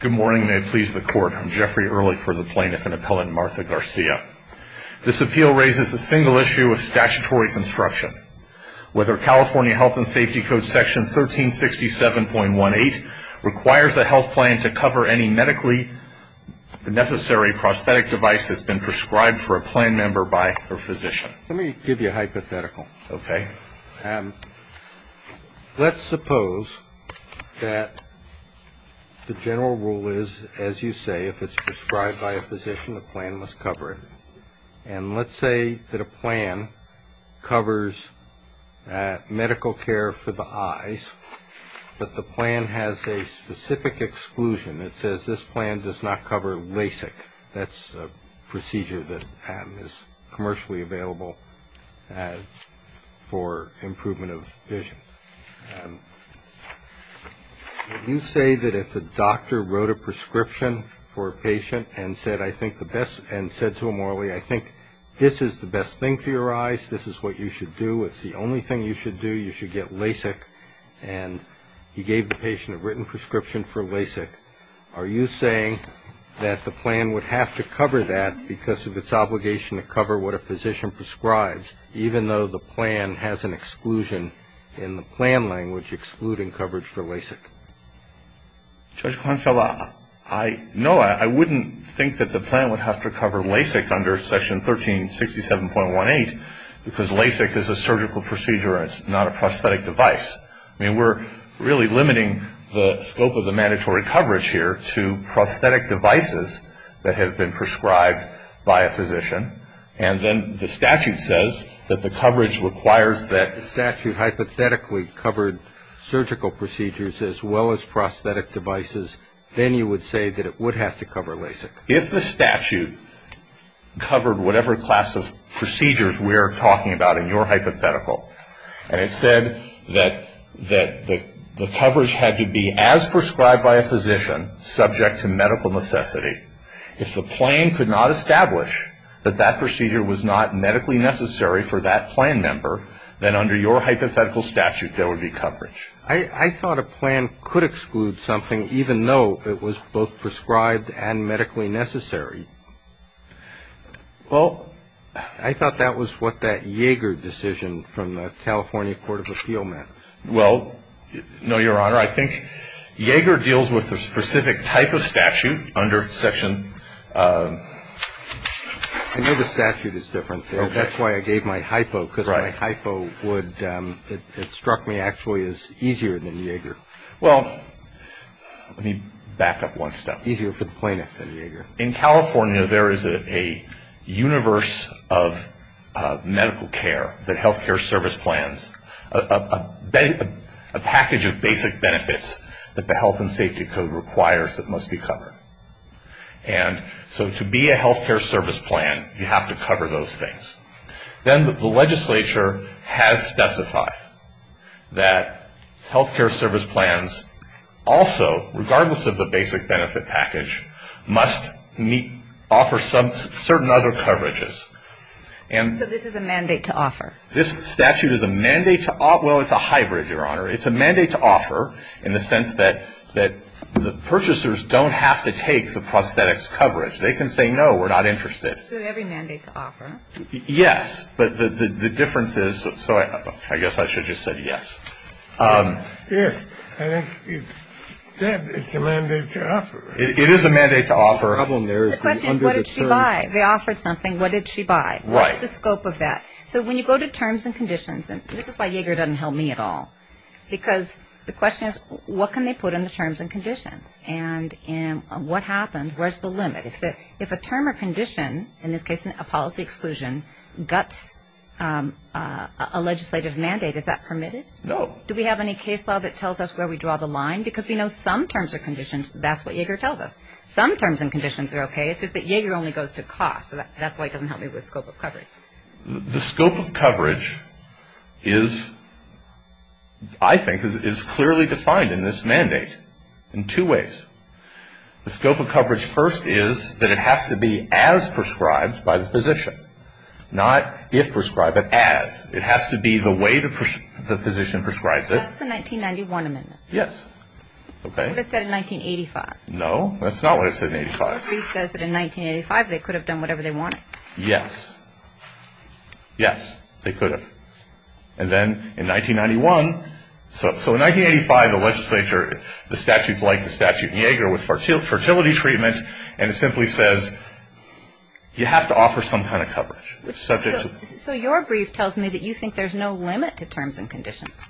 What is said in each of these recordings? Good morning. May it please the Court. I'm Jeffrey Early for the Plaintiff and Appellant Martha Garcia. This appeal raises a single issue of statutory construction. Whether California Health and Safety Code Section 1367.18 requires a health plan to cover any medically necessary prosthetic device that's been prescribed for a plan member by her physician. Let me give you a hypothetical. Okay. Let's suppose that the general rule is, as you say, if it's prescribed by a physician, the plan must cover it. And let's say that a plan covers medical care for the eyes, but the plan has a specific exclusion. It says this plan does not cover LASIK. That's a procedure that is commercially available for improvement of vision. Would you say that if a doctor wrote a prescription for a patient and said to him, Marley, I think this is the best thing for your eyes, this is what you should do, it's the only thing you should do, you should get LASIK, and he gave the patient a written prescription for LASIK, are you saying that the plan would have to cover that because of its obligation to cover what a physician prescribes, even though the plan has an exclusion in the plan language excluding coverage for LASIK? Judge Kleinfeld, no, I wouldn't think that the plan would have to cover LASIK under Section 1367.18 because LASIK is a surgical procedure and it's not a prosthetic device. I mean, we're really limiting the scope of the mandatory coverage here to prosthetic devices that have been prescribed by a physician. And then the statute says that the coverage requires that the statute hypothetically covered surgical procedures as well as prosthetic devices. Then you would say that it would have to cover LASIK. If the statute covered whatever class of procedures we're talking about in your hypothetical, and it said that the coverage had to be as prescribed by a physician subject to medical necessity, if the plan could not establish that that procedure was not medically necessary for that plan member, then under your hypothetical statute there would be coverage. I thought a plan could exclude something even though it was both prescribed and medically necessary. Well, I thought that was what that Yeager decision from the California Court of Appeal meant. Well, no, Your Honor. I think Yeager deals with a specific type of statute under Section. I know the statute is different there. That's why I gave my hypo because my hypo would, it struck me actually as easier than Yeager. Well, let me back up one step. Easier for the plaintiff than Yeager. In California there is a universe of medical care that healthcare service plans, a package of basic benefits that the Health and Safety Code requires that must be covered. And so to be a healthcare service plan you have to cover those things. Then the legislature has specified that healthcare service plans also, regardless of the basic benefit package, must offer certain other coverages. So this is a mandate to offer? This statute is a mandate to offer. Well, it's a hybrid, Your Honor. It's a mandate to offer in the sense that the purchasers don't have to take the prosthetics coverage. They can say, no, we're not interested. So every mandate to offer? Yes. But the difference is, so I guess I should have just said yes. Yes. I think you said it's a mandate to offer. It is a mandate to offer. The problem there is the undeterred. The question is what did she buy? They offered something. What did she buy? Right. What's the scope of that? So when you go to terms and conditions, and this is why Yeager doesn't help me at all, because the question is what can they put in the terms and conditions? And what happens? Where's the limit? If a term or condition, in this case a policy exclusion, guts a legislative mandate, is that permitted? No. Do we have any case law that tells us where we draw the line? Because we know some terms or conditions, that's what Yeager tells us. Some terms and conditions are okay. It's just that Yeager only goes to cost, so that's why it doesn't help me with scope of coverage. The scope of coverage is, I think, is clearly defined in this mandate in two ways. The scope of coverage first is that it has to be as prescribed by the physician, not if prescribed, but as. It has to be the way the physician prescribes it. That's the 1991 amendment. Yes. Okay. What it said in 1985. No, that's not what it said in 1985. The brief says that in 1985 they could have done whatever they wanted. Yes. Yes. They could have. And then in 1991, so in 1985 the legislature, the statutes like the statute in Yeager with fertility treatment, and it simply says you have to offer some kind of coverage. So your brief tells me that you think there's no limit to terms and conditions,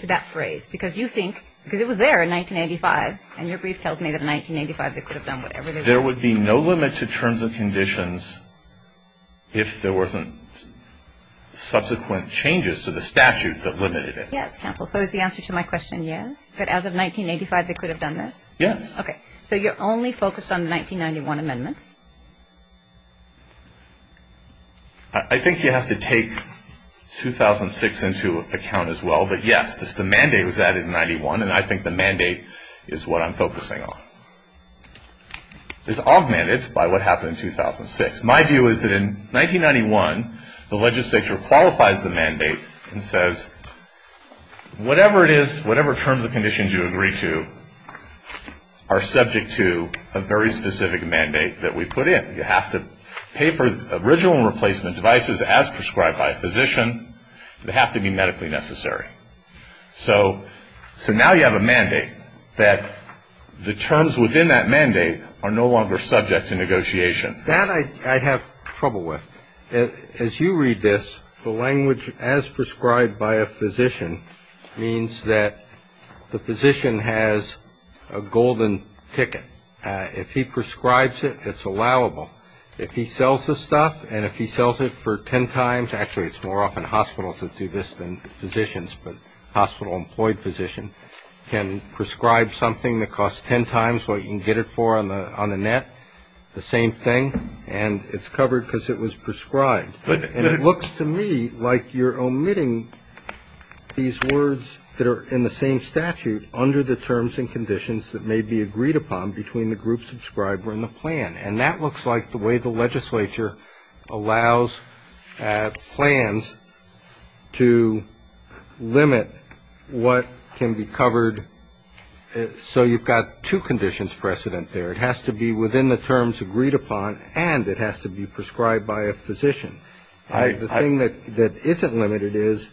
to that phrase, because you think, because it was there in 1985, and your brief tells me that in 1985 they could have done whatever they wanted. So there would be no limit to terms and conditions if there wasn't subsequent changes to the statute that limited it. Yes, counsel. So is the answer to my question yes, that as of 1985 they could have done this? Yes. Okay. So you're only focused on the 1991 amendments? I think you have to take 2006 into account as well. But yes, the mandate was added in 91, and I think the mandate is what I'm focusing on. It's augmented by what happened in 2006. My view is that in 1991 the legislature qualifies the mandate and says whatever it is, whatever terms and conditions you agree to are subject to a very specific mandate that we put in. You have to pay for original replacement devices as prescribed by a physician. They have to be medically necessary. So now you have a mandate that the terms within that mandate are no longer subject to negotiation. That I have trouble with. As you read this, the language as prescribed by a physician means that the physician has a golden ticket. If he prescribes it, it's allowable. If he sells the stuff and if he sells it for ten times, actually it's more often hospitals that do this than physicians, but a hospital-employed physician can prescribe something that costs ten times what you can get it for on the net, the same thing, and it's covered because it was prescribed. And it looks to me like you're omitting these words that are in the same statute under the terms and conditions that may be agreed upon between the group subscriber and the plan. And that looks like the way the legislature allows plans to limit what can be covered. So you've got two conditions precedent there. It has to be within the terms agreed upon and it has to be prescribed by a physician. The thing that isn't limited is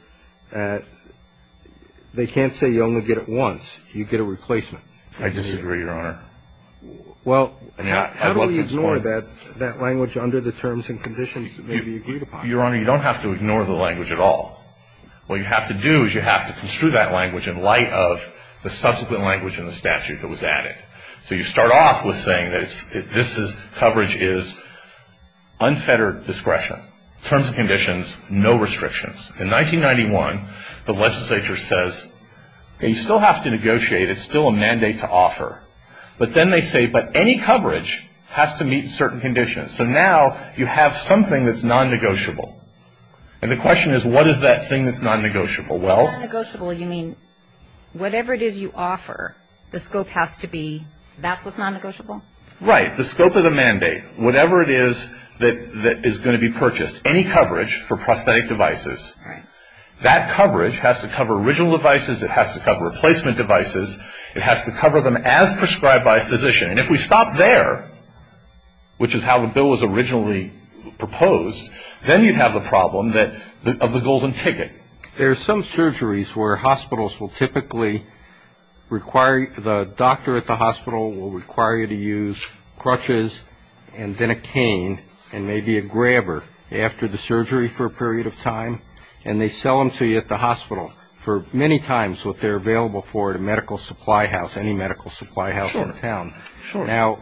they can't say you only get it once. You get a replacement. I disagree, Your Honor. Well, how do we ignore that language under the terms and conditions that may be agreed upon? Your Honor, you don't have to ignore the language at all. What you have to do is you have to construe that language in light of the subsequent language in the statute that was added. So you start off with saying that this coverage is unfettered discretion, terms and conditions, no restrictions. In 1991, the legislature says you still have to negotiate. It's still a mandate to offer. But then they say, but any coverage has to meet certain conditions. So now you have something that's non-negotiable. And the question is what is that thing that's non-negotiable? Well, Non-negotiable, you mean whatever it is you offer, the scope has to be that's what's non-negotiable? Right. The scope of the mandate, whatever it is that is going to be purchased, any coverage for prosthetic devices, that coverage has to cover original devices, it has to cover replacement devices, it has to cover them as prescribed by a physician. And if we stop there, which is how the bill was originally proposed, then you'd have the problem of the golden ticket. There are some surgeries where hospitals will typically require the doctor at the hospital will require you to use crutches and then a cane and maybe a grabber after the surgery for a period of time. And they sell them to you at the hospital for many times what they're available for at a medical supply house, any medical supply house in town. Sure. Now,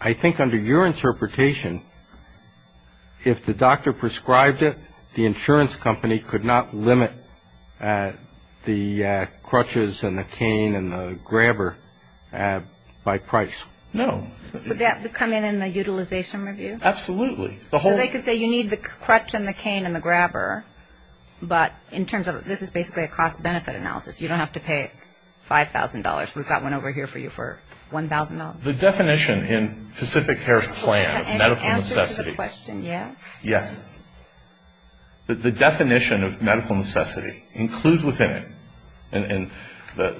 I think under your interpretation, if the doctor prescribed it, the insurance company could not limit the crutches and the cane and the grabber by price. No. Would that come in in the utilization review? Absolutely. So they could say you need the crutch and the cane and the grabber, but in terms of this is basically a cost-benefit analysis. You don't have to pay $5,000. We've got one over here for you for $1,000. The definition in Pacific Care's plan of medical necessity. An answer to the question, yes? Yes. The definition of medical necessity includes within it that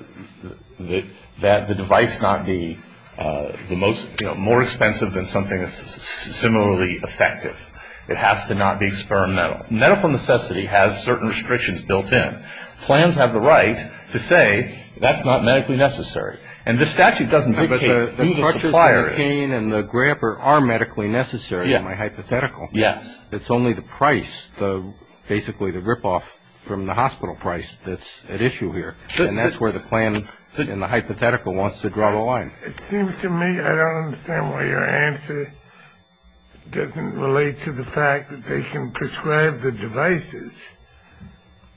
the device not be the most, you know, more expensive than something that's similarly effective. It has to not be experimental. Medical necessity has certain restrictions built in. Clans have the right to say that's not medically necessary. And the statute doesn't dictate who the supplier is. But the crutches and the cane and the grabber are medically necessary in my hypothetical. Yes. It's only the price, basically the rip-off from the hospital price that's at issue here, and that's where the plan in the hypothetical wants to draw the line. It seems to me I don't understand why your answer doesn't relate to the fact that they can prescribe the devices.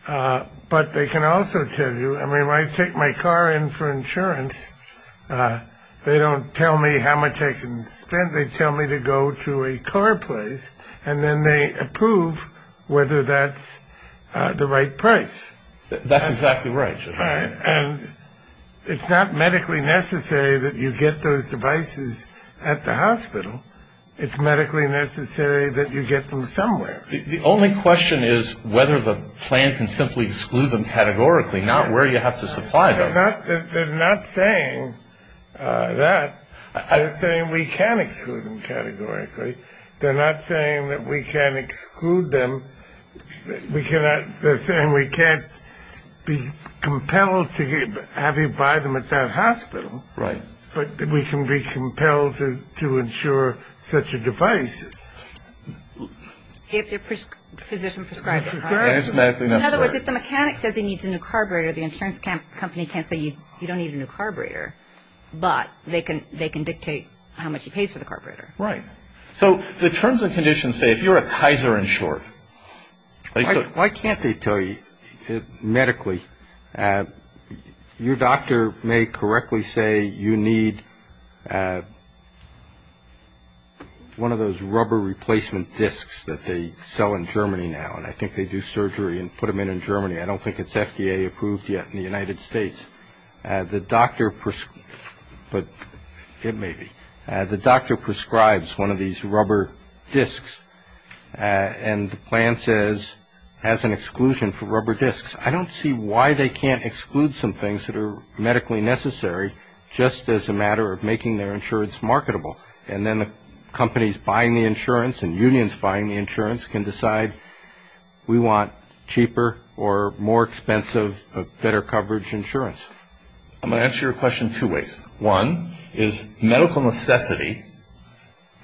But they can also tell you, I mean, when I take my car in for insurance, they don't tell me how much I can spend. They tell me to go to a car place, and then they approve whether that's the right price. That's exactly right. And it's not medically necessary that you get those devices at the hospital. It's medically necessary that you get them somewhere. The only question is whether the plan can simply exclude them categorically, not where you have to supply them. They're not saying that. They're saying we can't exclude them categorically. They're not saying that we can't exclude them. They're saying we can't be compelled to have you buy them at that hospital. Right. But we can be compelled to insure such a device. If your physician prescribes it, right? And it's medically necessary. In other words, if the mechanic says he needs a new carburetor, the insurance company can't say you don't need a new carburetor, but they can dictate how much he pays for the carburetor. Right. So the terms and conditions say if you're a Kaiser insured. Why can't they tell you medically? Your doctor may correctly say you need one of those rubber replacement disks that they sell in Germany now, and I think they do surgery and put them in in Germany. I don't think it's FDA approved yet in the United States. But it may be. The doctor prescribes one of these rubber disks, and the plan says as an exclusion for rubber disks. I don't see why they can't exclude some things that are medically necessary just as a matter of making their insurance marketable, and then the companies buying the insurance and unions buying the insurance can decide we want cheaper or more expensive, better coverage insurance. I'm going to answer your question two ways. One is medical necessity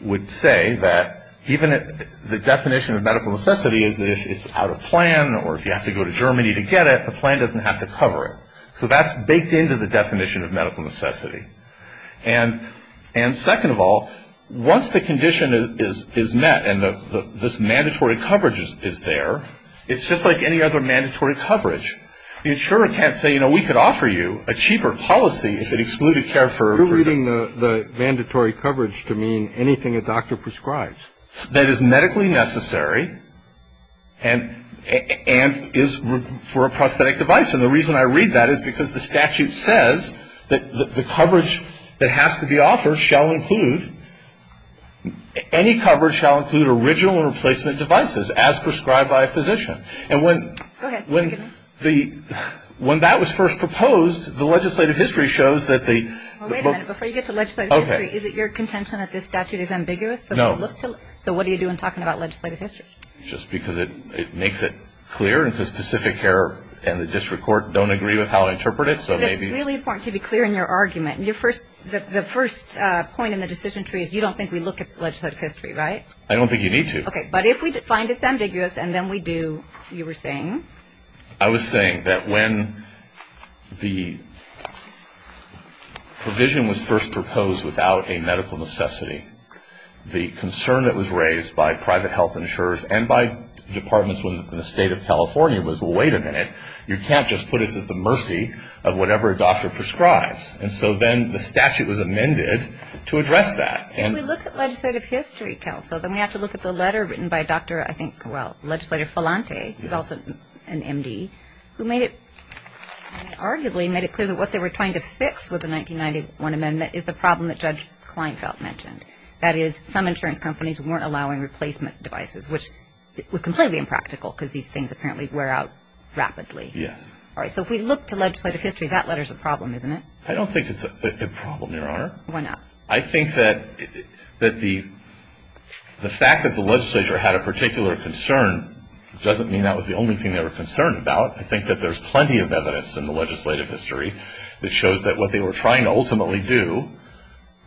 would say that even the definition of medical necessity is that if it's out of plan or if you have to go to Germany to get it, the plan doesn't have to cover it. So that's baked into the definition of medical necessity. And second of all, once the condition is met and this mandatory coverage is there, it's just like any other mandatory coverage. The insurer can't say, you know, we could offer you a cheaper policy if it excluded care for the... You're reading the mandatory coverage to mean anything a doctor prescribes. That is medically necessary and is for a prosthetic device. And the reason I read that is because the statute says that the coverage that has to be offered shall include, any coverage shall include original replacement devices as prescribed by a physician. And when... Go ahead. When that was first proposed, the legislative history shows that the... Well, wait a minute. Before you get to legislative history, is it your contention that this statute is ambiguous? No. So what do you do in talking about legislative history? Just because it makes it clear and because Pacific Air and the district court don't agree with how to interpret it, so maybe... But it's really important to be clear in your argument. Your first... The first point in the decision tree is you don't think we look at legislative history, right? I don't think you need to. Okay. But if we find it's ambiguous and then we do, you were saying? I was saying that when the provision was first proposed without a medical necessity, the concern that was raised by private health insurers and by departments within the state of California was, well, wait a minute. You can't just put us at the mercy of whatever a doctor prescribes. And so then the statute was amended to address that. If we look at legislative history, Kelso, then we have to look at the letter written by Dr. I think, well, Legislator Filante, who's also an M.D., who made it arguably made it clear that what they were trying to fix with the 1991 amendment is the problem that Judge Kleinfeld mentioned. That is, some insurance companies weren't allowing replacement devices, which was completely impractical because these things apparently wear out rapidly. Yes. All right. So if we look to legislative history, that letter's a problem, isn't it? I don't think it's a problem, Your Honor. Why not? I think that the fact that the legislature had a particular concern doesn't mean that was the only thing they were concerned about. I think that there's plenty of evidence in the legislative history that shows that what they were trying to ultimately do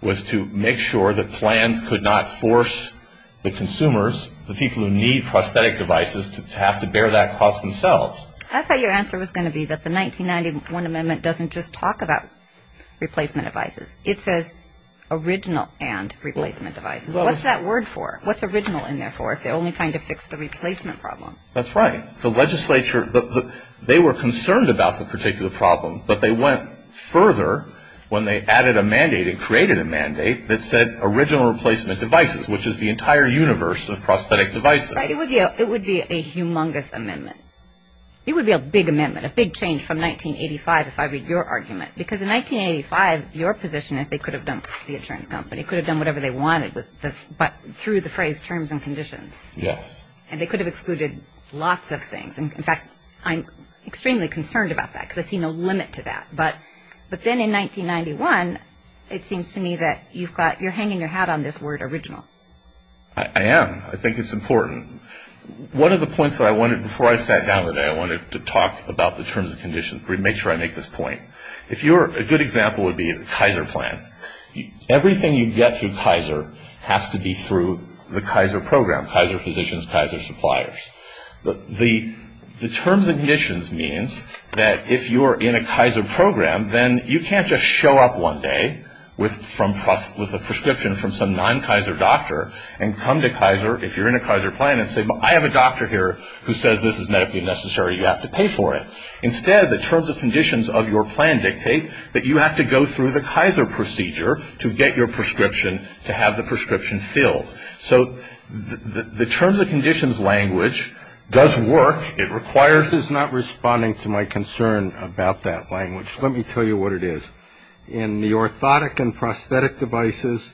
was to make sure that plans could not force the consumers, the people who need prosthetic devices, to have to bear that cost themselves. I thought your answer was going to be that the 1991 amendment doesn't just talk about replacement devices. It says original and replacement devices. What's that word for? What's original in there for if they're only trying to fix the replacement problem? That's right. The legislature, they were concerned about the particular problem, but they went further when they added a mandate and created a mandate that said original replacement devices, which is the entire universe of prosthetic devices. It would be a humongous amendment. It would be a big amendment, a big change from 1985, if I read your argument. Because in 1985, your position is they could have done the insurance company, could have done whatever they wanted, but through the phrase terms and conditions. Yes. And they could have excluded lots of things. In fact, I'm extremely concerned about that because I see no limit to that. But then in 1991, it seems to me that you're hanging your hat on this word original. I am. I think it's important. One of the points that I wanted, before I sat down today, I wanted to talk about the terms and conditions, make sure I make this point. A good example would be the Kaiser plan. Everything you get through Kaiser has to be through the Kaiser program, Kaiser physicians, Kaiser suppliers. The terms and conditions means that if you're in a Kaiser program, then you can't just show up one day with a prescription from some non-Kaiser doctor and come to Kaiser, if you're in a Kaiser plan, and say, well, I have a doctor here who says this is medically necessary. You have to pay for it. Instead, the terms and conditions of your plan dictate that you have to go through the Kaiser procedure to get your prescription, to have the prescription filled. So the terms and conditions language does work. It requires. This is not responding to my concern about that language. Let me tell you what it is. In the orthotic and prosthetic devices,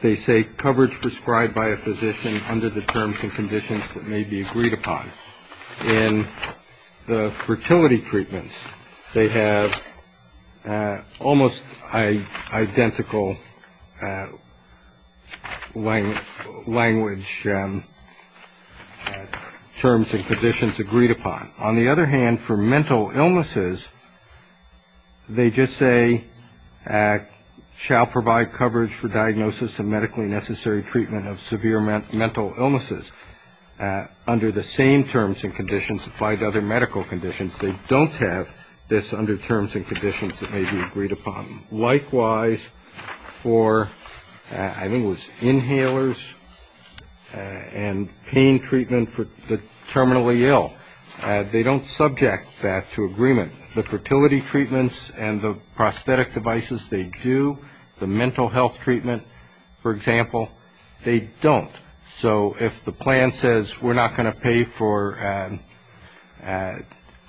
they say coverage prescribed by a physician under the terms and conditions that may be agreed upon. In the fertility treatments, they have almost identical language terms and conditions agreed upon. On the other hand, for mental illnesses, they just say shall provide coverage for diagnosis and medically necessary treatment of severe mental illnesses. Under the same terms and conditions applied to other medical conditions, they don't have this under terms and conditions that may be agreed upon. Likewise, for I think it was inhalers and pain treatment for the terminally ill, they don't subject that to agreement. The fertility treatments and the prosthetic devices, they do. The mental health treatment, for example, they don't. So if the plan says we're not going to pay for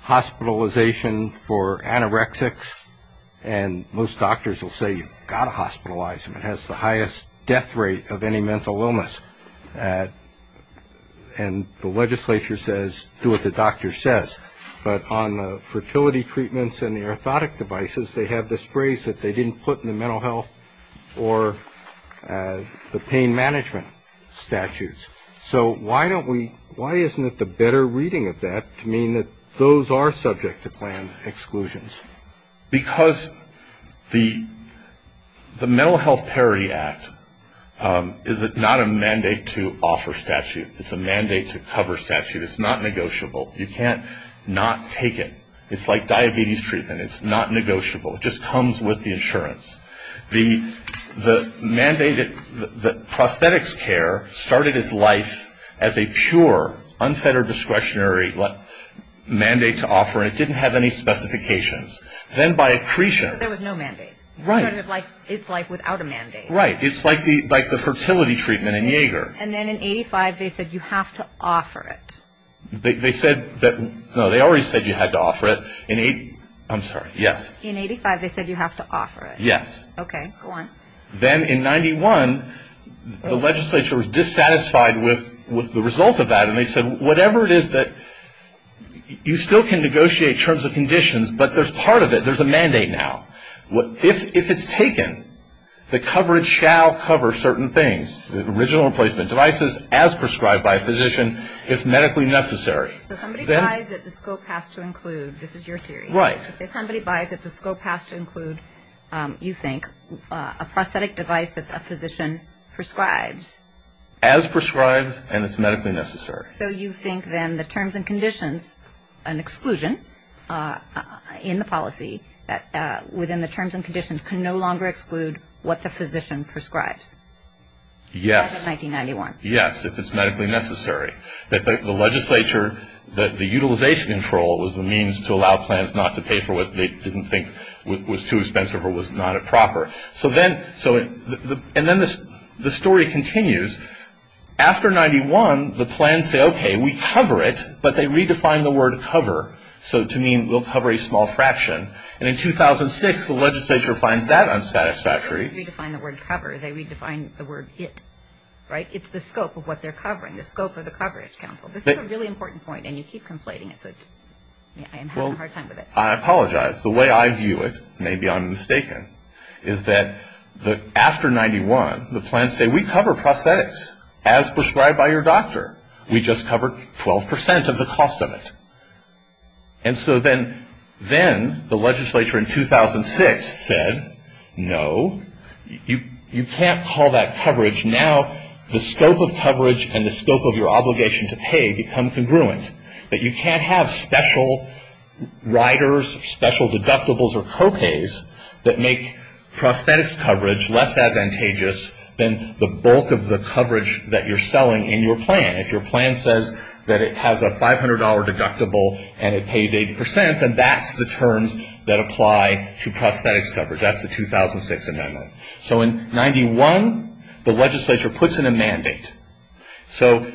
hospitalization for anorexics, and most doctors will say you've got to hospitalize them, it has the highest death rate of any mental illness. And the legislature says do what the doctor says. But on the fertility treatments and the orthotic devices, they have this phrase that they didn't put in the mental health or the pain management statutes. So why isn't it the better reading of that to mean that those are subject to plan exclusions? Because the Mental Health Parity Act is not a mandate to offer statute. It's a mandate to cover statute. It's not negotiable. You can't not take it. It's like diabetes treatment. It's not negotiable. It just comes with the insurance. The mandated prosthetics care started its life as a pure, unfettered discretionary mandate to offer, and it didn't have any specifications. Then by accretion. There was no mandate. Right. It started its life without a mandate. Right. It's like the fertility treatment in Jaeger. And then in 85, they said you have to offer it. They said that, no, they already said you had to offer it. I'm sorry. Yes. In 85, they said you have to offer it. Yes. Okay. Go on. Then in 91, the legislature was dissatisfied with the result of that, and they said whatever it is that you still can negotiate in terms of conditions, but there's part of it. There's a mandate now. If it's taken, the coverage shall cover certain things, the original replacement devices, as prescribed by a physician, if medically necessary. If somebody buys it, the scope has to include, this is your theory. Right. If somebody buys it, the scope has to include, you think, a prosthetic device that a physician prescribes. As prescribed and as medically necessary. So you think then the terms and conditions, an exclusion in the policy, that within the terms and conditions can no longer exclude what the physician prescribes. Yes. As of 1991. Yes, if it's medically necessary. The legislature, the utilization control, was the means to allow plans not to pay for what they didn't think was too expensive or was not a proper. And then the story continues. After 91, the plans say, okay, we cover it, but they redefine the word cover, so to mean we'll cover a small fraction. And in 2006, the legislature finds that unsatisfactory. They don't redefine the word cover. They redefine the word it. Right. It's the scope of what they're covering. The scope of the coverage, counsel. This is a really important point, and you keep conflating it, so I'm having a hard time with it. Well, I apologize. The way I view it, maybe I'm mistaken, is that after 91, the plans say, we cover prosthetics as prescribed by your doctor. We just cover 12% of the cost of it. And so then the legislature in 2006 said, no, you can't call that coverage. Now the scope of coverage and the scope of your obligation to pay become congruent. But you can't have special riders, special deductibles, or co-pays that make prosthetics coverage less advantageous than the bulk of the coverage that you're selling in your plan. If your plan says that it has a $500 deductible and it pays 80%, then that's the terms that apply to prosthetics coverage. That's the 2006 amendment. So in 91, the legislature puts in a mandate. So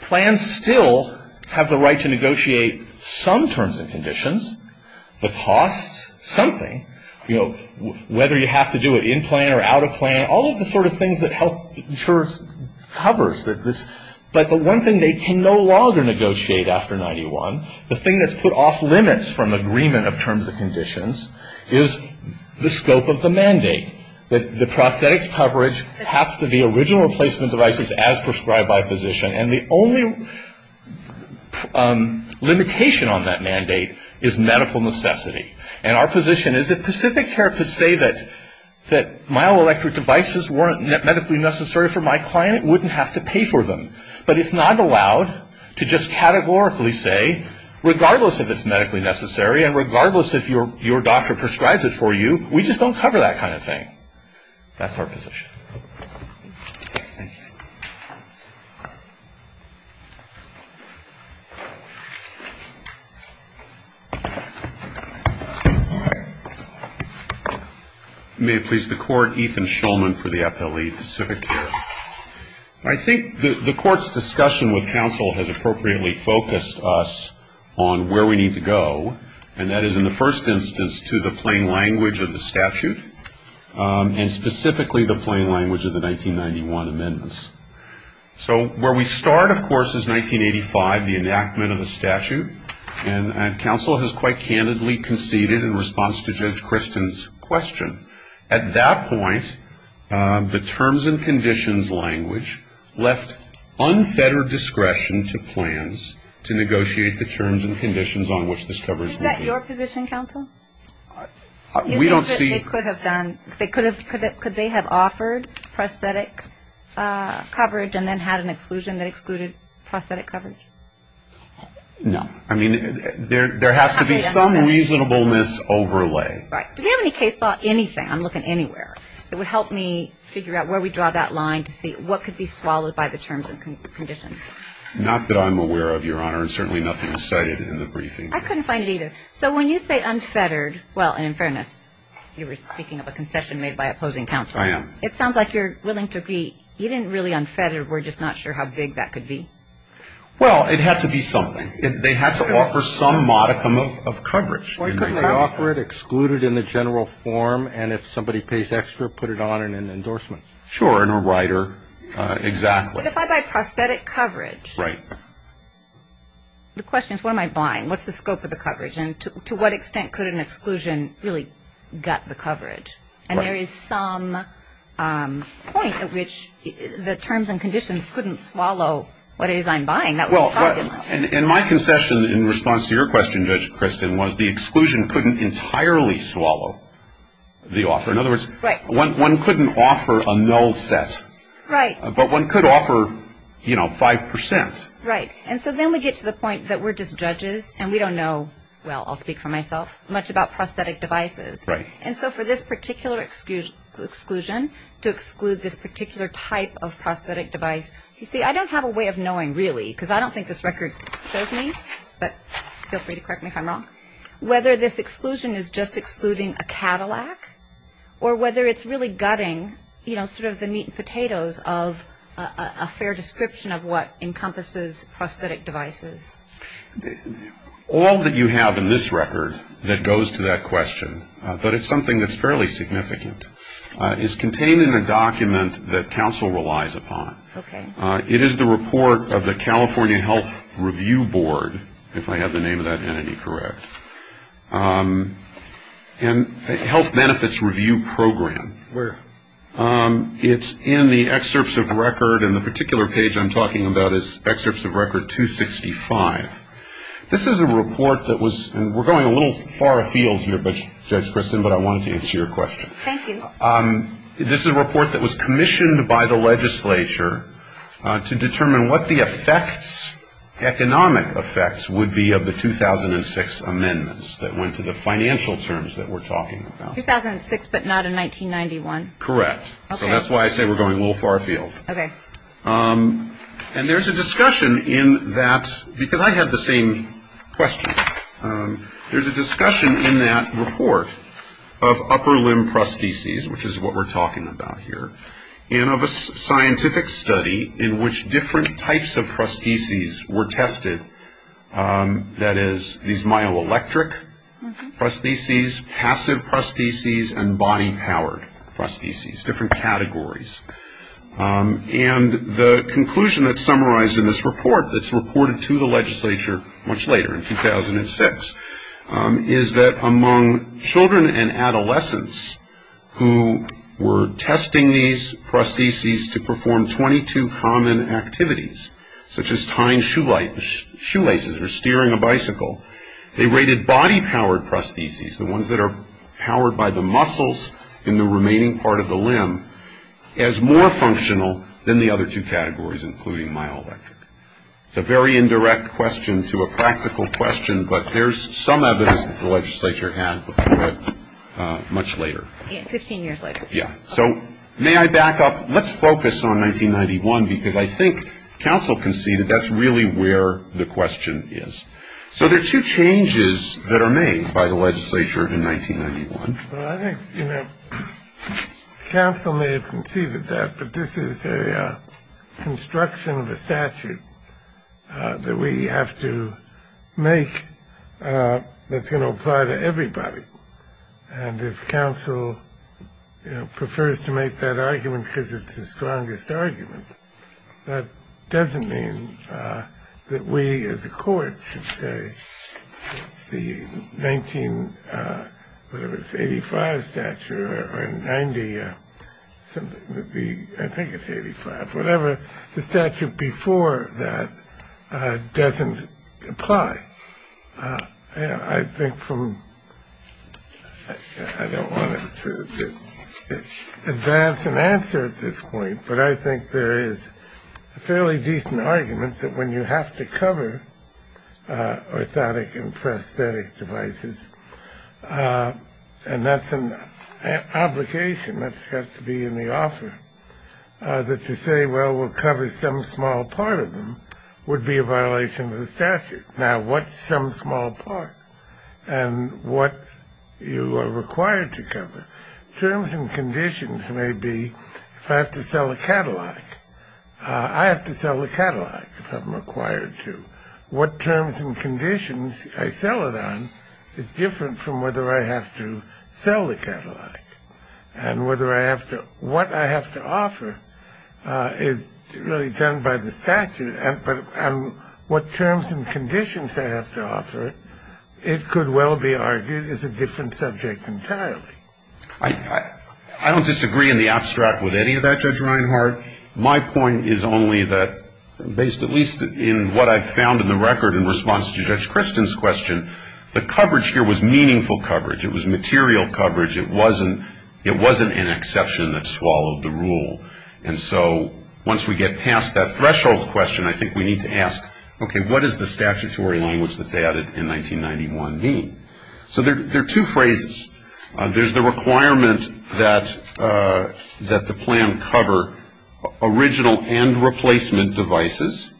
plans still have the right to negotiate some terms and conditions, the costs, something, whether you have to do it in plan or out of plan, all of the sort of things that health insurance covers. But the one thing they can no longer negotiate after 91, the thing that's put off limits from agreement of terms and conditions, is the scope of the mandate. The prosthetics coverage has to be original replacement devices as prescribed by a physician. And the only limitation on that mandate is medical necessity. And our position is if Pacific Care could say that myoelectric devices weren't medically necessary for my client, it wouldn't have to pay for them. But it's not allowed to just categorically say, regardless if it's medically necessary and regardless if your doctor prescribes it for you, we just don't cover that kind of thing. That's our position. May it please the Court, Ethan Shulman for the appellee, Pacific Care. I think the Court's discussion with counsel has appropriately focused us on where we need to go, and that is in the first instance to the plain language of the statute, and specifically the plain language of the 1991 amendments. So where we start, of course, is 1985, the enactment of the statute. And counsel has quite candidly conceded in response to Judge Christen's question. At that point, the terms and conditions language left unfettered discretion to plans to negotiate the terms and conditions on which this coverage would be. Is that your position, counsel? We don't see. Could they have offered prosthetic coverage and then had an exclusion that excluded prosthetic coverage? No. I mean, there has to be some reasonableness overlay. Right. Do we have any case law, anything? I'm looking anywhere. It would help me figure out where we draw that line to see what could be swallowed by the terms and conditions. Not that I'm aware of, Your Honor, and certainly nothing was cited in the briefing. I couldn't find it either. So when you say unfettered, well, and in fairness, you were speaking of a concession made by opposing counsel. I am. It sounds like you're willing to be, even really unfettered, we're just not sure how big that could be. Well, it had to be something. They had to offer some modicum of coverage. They could offer it, exclude it in the general form, and if somebody pays extra, put it on in an endorsement. Sure, in a rider. Exactly. But if I buy prosthetic coverage. Right. The question is what am I buying? What's the scope of the coverage? And to what extent could an exclusion really gut the coverage? And there is some point at which the terms and conditions couldn't swallow what it is I'm buying. And my concession in response to your question, Judge Kristen, was the exclusion couldn't entirely swallow the offer. In other words, one couldn't offer a null set. Right. But one could offer, you know, 5%. Right. And so then we get to the point that we're just judges and we don't know, well, I'll speak for myself, much about prosthetic devices. Right. And so for this particular exclusion to exclude this particular type of prosthetic device, you see, I don't have a way of knowing really because I don't think this record shows me, but feel free to correct me if I'm wrong, whether this exclusion is just excluding a Cadillac or whether it's really gutting, you know, sort of the meat and potatoes of a fair description of what encompasses prosthetic devices. All that you have in this record that goes to that question, but it's something that's fairly significant, is contained in a document that counsel relies upon. Okay. It is the report of the California Health Review Board, if I have the name of that entity correct, and Health Benefits Review Program. Where? It's in the excerpts of record, and the particular page I'm talking about is excerpts of record 265. This is a report that was, and we're going a little far afield here, Judge Kristen, but I wanted to answer your question. Thank you. This is a report that was commissioned by the legislature to determine what the effects, economic effects would be of the 2006 amendments that went to the financial terms that we're talking about. 2006 but not in 1991? Correct. Okay. So that's why I say we're going a little far afield. Okay. And there's a discussion in that, because I had the same question. There's a discussion in that report of upper limb prostheses, which is what we're talking about here, and of a scientific study in which different types of prostheses were tested, that is, these myoelectric prostheses, passive prostheses, and body-powered prostheses, different categories. And the conclusion that's summarized in this report that's reported to the legislature much later, in 2006, is that among children and adolescents who were testing these prostheses to perform 22 common activities, such as tying shoelaces or steering a bicycle, they rated body-powered prostheses, the ones that are powered by the muscles in the remaining part of the limb, as more functional than the other two categories, including myoelectric. It's a very indirect question to a practical question, but there's some evidence that the legislature had much later. Fifteen years later. Yeah. So may I back up? Let's focus on 1991, because I think counsel conceded that's really where the question is. So there are two changes that are made by the legislature in 1991. Well, I think, you know, counsel may have conceded that, but this is a construction of a statute that we have to make that's going to apply to everybody. And if counsel, you know, prefers to make that argument because it's the strongest argument, that doesn't mean that we as a court should say the 1985 statute or 90 something, I think it's 85, whatever the statute before that doesn't apply. I think from I don't want to advance an answer at this point, but I think there is a fairly decent argument that when you have to cover orthotic and prosthetic devices, and that's an obligation that's got to be in the offer that to say, well, we'll cover some small part of them would be a violation of the statute. Now, what's some small part and what you are required to cover? Terms and conditions may be if I have to sell a catalog, I have to sell the catalog if I'm required to. What terms and conditions I sell it on is different from whether I have to sell the catalog and whether I have to. So what I have to offer is really done by the statute. But what terms and conditions I have to offer, it could well be argued is a different subject entirely. I don't disagree in the abstract with any of that, Judge Reinhart. My point is only that based at least in what I found in the record in response to Judge Kristen's question, the coverage here was meaningful coverage. It was material coverage. It wasn't an exception that swallowed the rule. And so once we get past that threshold question, I think we need to ask, okay, what does the statutory language that's added in 1991 mean? So there are two phrases. There's the requirement that the plan cover original and replacement devices.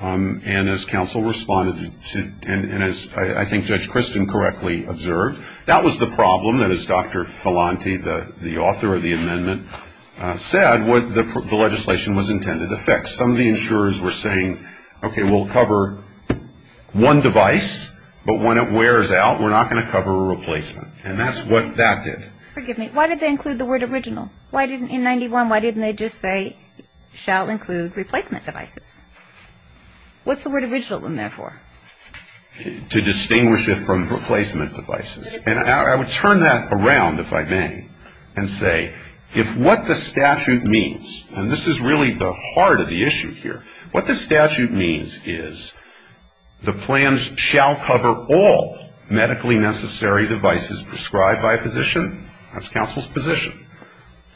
And as counsel responded to, and as I think Judge Kristen correctly observed, that was the problem that as Dr. Filanti, the author of the amendment, said, the legislation was intended to fix. Some of the insurers were saying, okay, we'll cover one device, but when it wears out, we're not going to cover a replacement. And that's what that did. Forgive me. Why did they include the word original? In 91, why didn't they just say shall include replacement devices? What's the word original in there for? To distinguish it from replacement devices. And I would turn that around, if I may, and say if what the statute means, and this is really the heart of the issue here, what the statute means is the plans shall cover all medically necessary devices prescribed by a physician. That's counsel's position.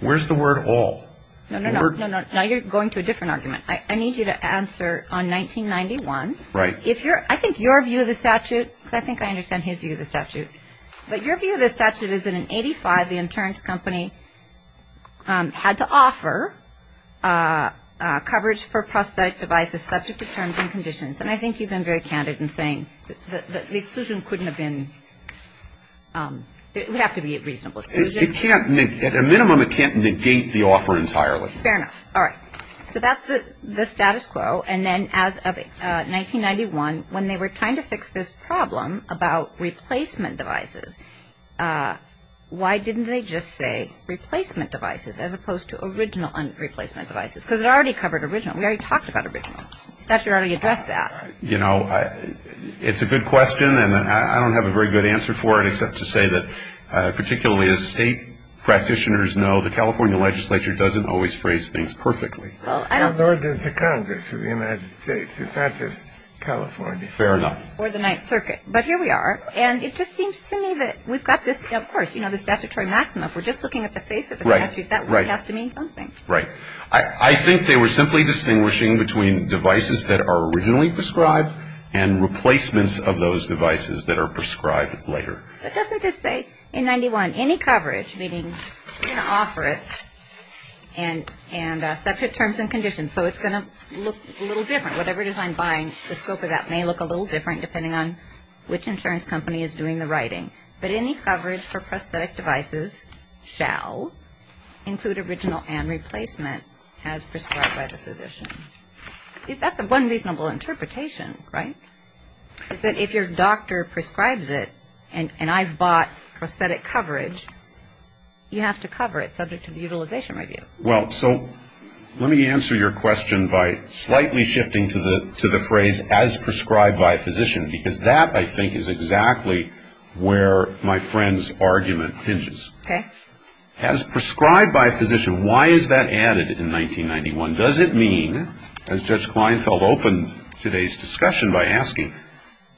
Where's the word all? No, no, no. Now you're going to a different argument. I need you to answer on 1991. Right. I think your view of the statute, because I think I understand his view of the statute, but your view of the statute is that in 85, the insurance company had to offer coverage for prosthetic devices subject to terms and conditions. And I think you've been very candid in saying the exclusion couldn't have been, it would have to be a reasonable exclusion. At a minimum, it can't negate the offer entirely. Fair enough. All right. So that's the status quo. And then as of 1991, when they were trying to fix this problem about replacement devices, why didn't they just say replacement devices as opposed to original replacement devices? Because it already covered original. We already talked about original. The statute already addressed that. You know, it's a good question, and I don't have a very good answer for it, except to say that particularly as state practitioners know, the California legislature doesn't always phrase things perfectly. Nor does the Congress of the United States. It's not just California. Fair enough. Or the Ninth Circuit. But here we are, and it just seems to me that we've got this, of course, you know, the statutory maximum. If we're just looking at the face of the statute, that really has to mean something. Right. I think they were simply distinguishing between devices that are originally prescribed and replacements of those devices that are prescribed later. But doesn't this say, in 91, any coverage, meaning you're going to offer it, and subject terms and conditions. So it's going to look a little different. Whatever design buying, the scope of that may look a little different, depending on which insurance company is doing the writing. But any coverage for prosthetic devices shall include original and replacement as prescribed by the physician. That's one reasonable interpretation, right, is that if your doctor prescribes it and I've bought prosthetic coverage, you have to cover it subject to the utilization review. Well, so let me answer your question by slightly shifting to the phrase as prescribed by a physician. Because that, I think, is exactly where my friend's argument hinges. Okay. As prescribed by a physician, why is that added in 1991? Does it mean, as Judge Kleinfeld opened today's discussion by asking,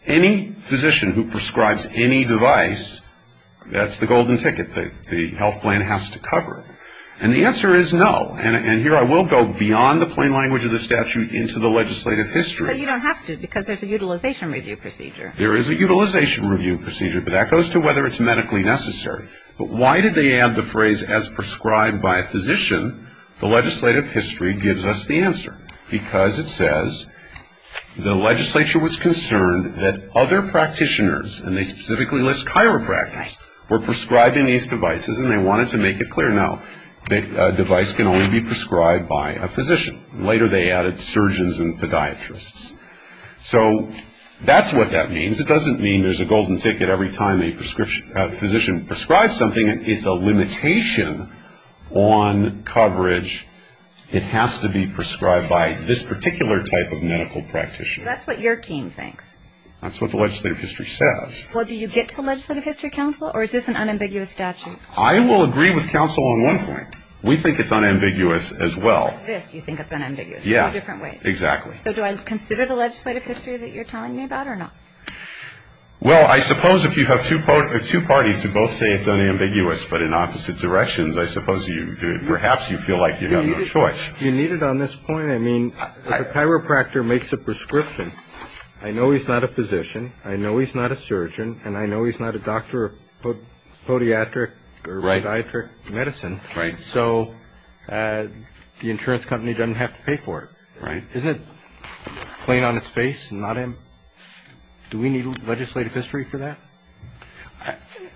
any physician who prescribes any device, that's the golden ticket. The health plan has to cover it. And the answer is no. And here I will go beyond the plain language of the statute into the legislative history. But you don't have to, because there's a utilization review procedure. There is a utilization review procedure, but that goes to whether it's medically necessary. But why did they add the phrase as prescribed by a physician? The legislative history gives us the answer. Because it says the legislature was concerned that other practitioners, and they specifically list chiropractors, were prescribing these devices and they wanted to make it clear, no, a device can only be prescribed by a physician. Later they added surgeons and podiatrists. So that's what that means. It doesn't mean there's a golden ticket every time a physician prescribes something, it's a limitation on coverage. It has to be prescribed by this particular type of medical practitioner. That's what your team thinks. That's what the legislative history says. Well, do you get to the legislative history, counsel, or is this an unambiguous statute? I will agree with counsel on one point. We think it's unambiguous as well. With this you think it's unambiguous. Yeah. Two different ways. Exactly. So do I consider the legislative history that you're telling me about or not? Well, I suppose if you have two parties who both say it's unambiguous but in opposite directions, I suppose perhaps you feel like you have no choice. Do you need it on this point? I mean, if a chiropractor makes a prescription, I know he's not a physician, I know he's not a surgeon, and I know he's not a doctor of podiatric or radiatric medicine. Right. So the insurance company doesn't have to pay for it. Right. Isn't it plain on its face? Do we need legislative history for that?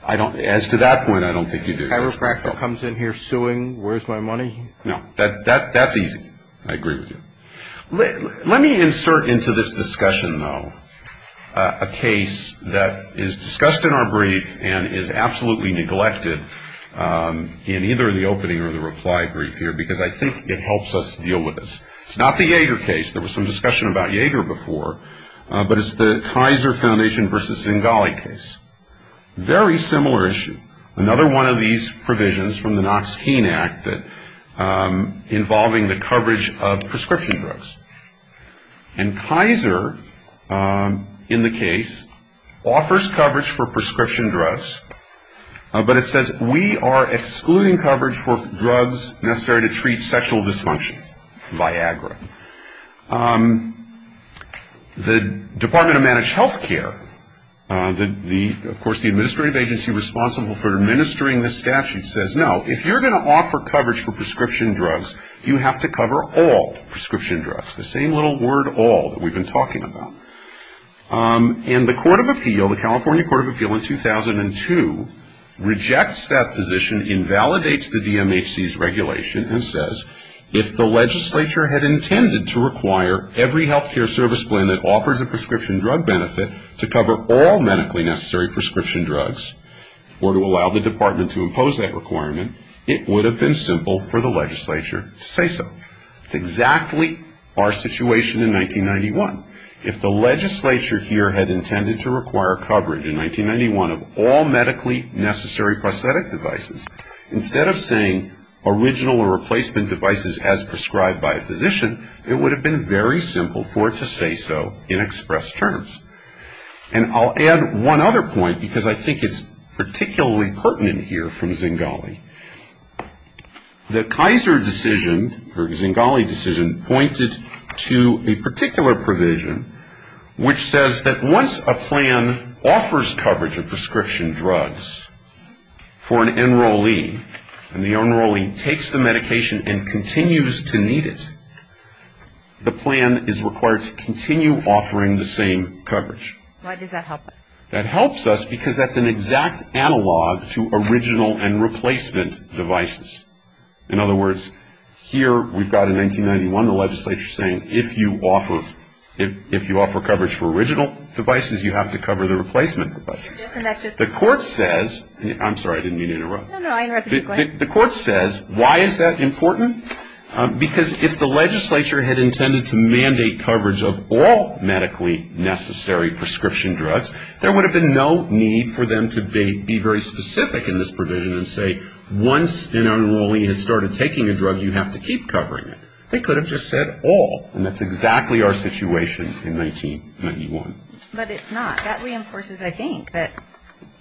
As to that point, I don't think you do. If a chiropractor comes in here suing, where's my money? No. That's easy. I agree with you. Let me insert into this discussion, though, a case that is discussed in our brief and is absolutely neglected in either the opening or the reply brief here because I think it helps us deal with this. It's not the Yeager case. There was some discussion about Yeager before. But it's the Kaiser Foundation versus Zingale case. Very similar issue. Another one of these provisions from the Knox-Keene Act involving the coverage of prescription drugs. And Kaiser, in the case, offers coverage for prescription drugs, but it says we are excluding coverage for drugs necessary to treat sexual dysfunction, Viagra. The Department of Managed Health Care, of course, the administrative agency responsible for administering this statute, says, no, if you're going to offer coverage for prescription drugs, you have to cover all prescription drugs. The same little word, all, that we've been talking about. And the Court of Appeal, the California Court of Appeal in 2002, rejects that position, invalidates the DMHC's regulation, and says, if the legislature had intended to require every health care service plan that offers a prescription drug benefit to cover all medically necessary prescription drugs, or to allow the department to impose that requirement, it would have been simple for the legislature to say so. It's exactly our situation in 1991. If the legislature here had intended to require coverage in 1991 of all medically necessary prosthetic devices, instead of saying original or replacement devices as prescribed by a physician, it would have been very simple for it to say so in express terms. And I'll add one other point, because I think it's particularly pertinent here from Zingale. The Kaiser decision, or Zingale decision, pointed to a particular provision, which says that once a plan offers coverage of prescription drugs for an enrollee, and the enrollee takes the medication and continues to need it, the plan is required to continue offering the same coverage. Why does that help us? That helps us because that's an exact analog to original and replacement devices. In other words, here we've got in 1991 the legislature saying, if you offer coverage for original devices, you have to cover the replacement devices. The court says, I'm sorry, I didn't mean to interrupt. The court says, why is that important? Because if the legislature had intended to mandate coverage of all medically necessary prescription drugs, there would have been no need for them to be very specific in this provision and say, once an enrollee has started taking a drug, you have to keep covering it. They could have just said all, and that's exactly our situation in 1991. But it's not. That reinforces, I think, that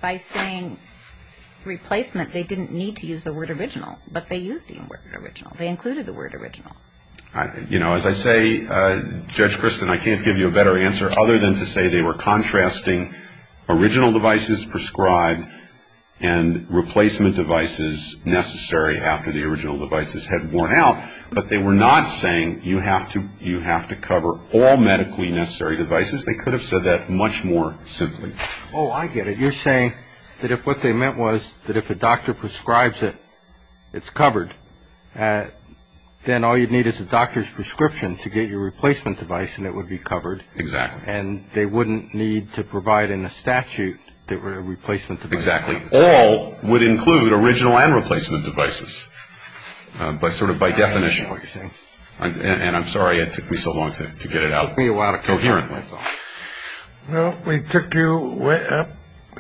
by saying replacement, they didn't need to use the word original, but they used the word original. They included the word original. You know, as I say, Judge Kristen, I can't give you a better answer other than to say they were contrasting original devices prescribed and replacement devices necessary after the original devices had worn out, but they were not saying you have to cover all medically necessary devices. They could have said that much more simply. Oh, I get it. You're saying that if what they meant was that if a doctor prescribes it, it's covered, then all you'd need is a doctor's prescription to get your replacement device, and it would be covered. Exactly. And they wouldn't need to provide in the statute a replacement device. Exactly. All would include original and replacement devices by sort of by definition. I understand what you're saying. And I'm sorry it took me so long to get it out coherently. Well, we took you a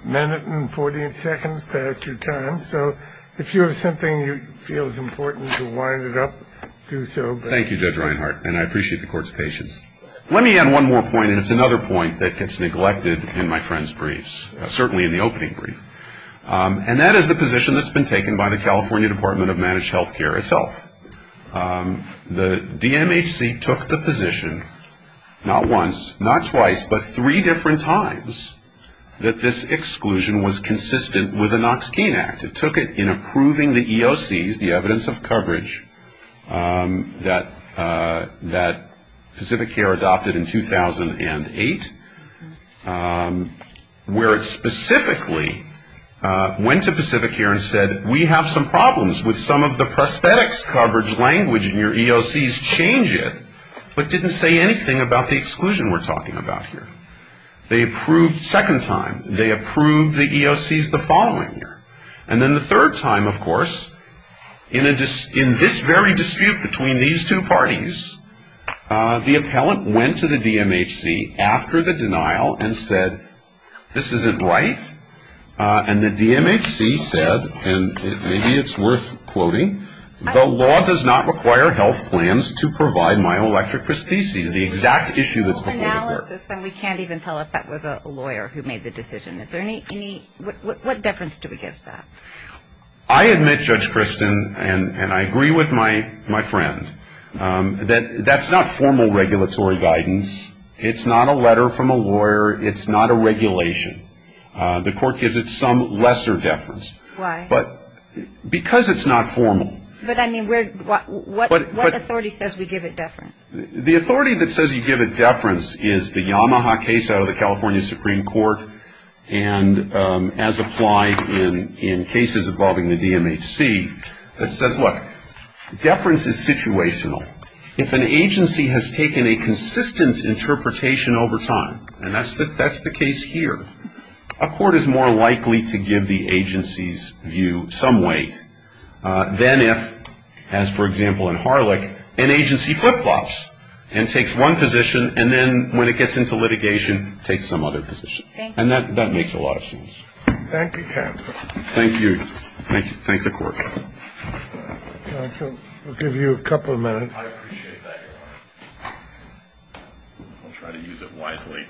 minute and 40 seconds past your time. So if you have something you feel is important to wind it up, do so. Thank you, Judge Reinhart, and I appreciate the court's patience. Let me add one more point, and it's another point that gets neglected in my friend's briefs, certainly in the opening brief, and that is the position that's been taken by the California Department of Managed Health Care itself. The DMHC took the position not once, not twice, but three different times that this exclusion was consistent with the Knox-Keene Act. It took it in approving the EOCs, the evidence of coverage, that Pacific Care adopted in 2008, where it specifically went to Pacific Care and said, we have some problems with some of the prosthetics coverage language in your EOCs. Change it. But didn't say anything about the exclusion we're talking about here. They approved second time. They approved the EOCs the following year. And then the third time, of course, in this very dispute between these two parties, the appellant went to the DMHC after the denial and said, this isn't right. And the DMHC said, and maybe it's worth quoting, the law does not require health plans to provide myoelectric prostheses, the exact issue that's before the court. We can't even tell if that was a lawyer who made the decision. What difference do we give to that? I admit, Judge Kristen, and I agree with my friend, that that's not formal regulatory guidance. It's not a letter from a lawyer. It's not a regulation. The court gives it some lesser deference. Why? Because it's not formal. But, I mean, what authority says we give it deference? The authority that says you give it deference is the Yamaha case out of the California Supreme Court, and as applied in cases involving the DMHC, that says, look, deference is situational. If an agency has taken a consistent interpretation over time, and that's the case here, a court is more likely to give the agency's view some weight than if, as for example in Harlech, an agency flip-flops and takes one position, and then when it gets into litigation, takes some other position. Thank you. And that makes a lot of sense. Thank you, counsel. Thank you. Thank the court. Counsel, we'll give you a couple of minutes. I appreciate that, Your Honor. I'll try to use it wisely.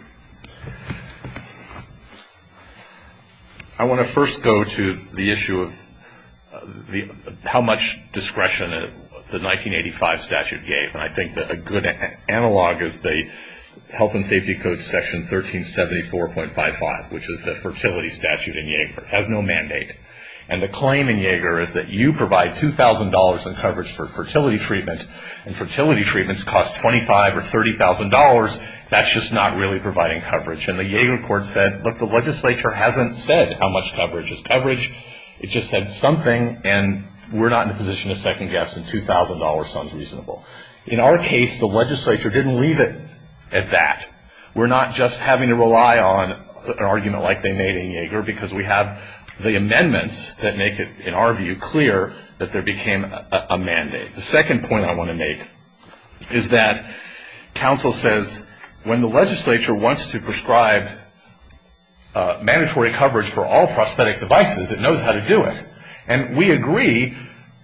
I want to first go to the issue of how much discretion the 1985 statute gave, and I think that a good analog is the Health and Safety Code section 1374.55, which is the fertility statute in Yaeger. It has no mandate. And the claim in Yaeger is that you provide $2,000 in coverage for fertility treatment, and fertility treatments cost $25,000 or $30,000. That's just not really providing coverage. And the Yaeger court said, look, the legislature hasn't said how much coverage is coverage. It just said something, and we're not in a position to second guess, and $2,000 sounds reasonable. In our case, the legislature didn't leave it at that. We're not just having to rely on an argument like they made in Yaeger, because we have the amendments that make it, in our view, clear that there became a mandate. The second point I want to make is that counsel says when the legislature wants to prescribe mandatory coverage for all prosthetic devices, it knows how to do it. And we agree,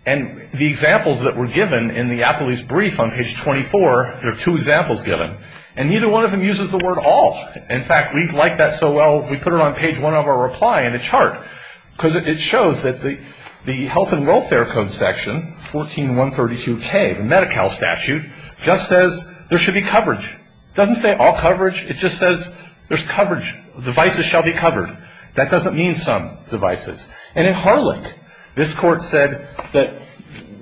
and the examples that were given in the Applebee's brief on page 24, there are two examples given, and neither one of them uses the word all. In fact, we like that so well, we put it on page one of our reply in a chart, because it shows that the health and welfare code section, 14132K, the Medi-Cal statute, just says there should be coverage. It doesn't say all coverage. It just says there's coverage. Devices shall be covered. That doesn't mean some devices. And in Harlech, this court said that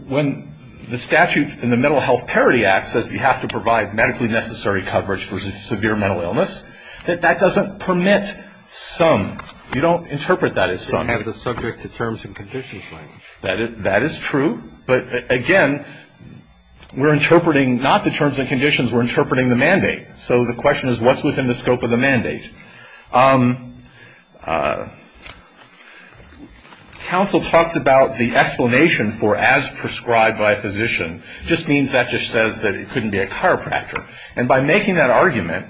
when the statute in the Mental Health Parity Act says you have to provide medically necessary coverage for severe mental illness, that that doesn't permit some. You don't interpret that as some. You have to subject the terms and conditions language. That is true. But, again, we're interpreting not the terms and conditions. We're interpreting the mandate. So the question is what's within the scope of the mandate? Counsel talks about the explanation for as prescribed by a physician. Just means that just says that it couldn't be a chiropractor. And by making that argument,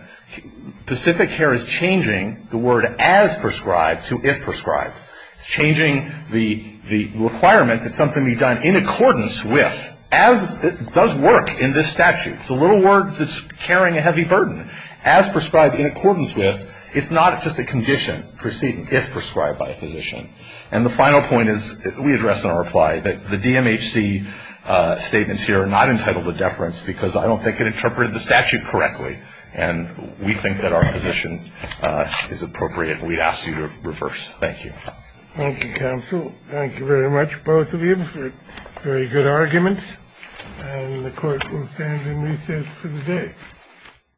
Pacific Care is changing the word as prescribed to if prescribed. It's changing the requirement that something be done in accordance with, as it does work in this statute. It's a little word that's carrying a heavy burden. As prescribed in accordance with, it's not just a condition proceeding, if prescribed by a physician. And the final point is we address in our reply that the DMHC statements here are not entitled to deference because I don't think it interpreted the statute correctly. And we think that our position is appropriate, and we'd ask you to reverse. Thank you. Thank you, counsel. Thank you very much, both of you, for very good arguments. And the court will stand in recess for the day.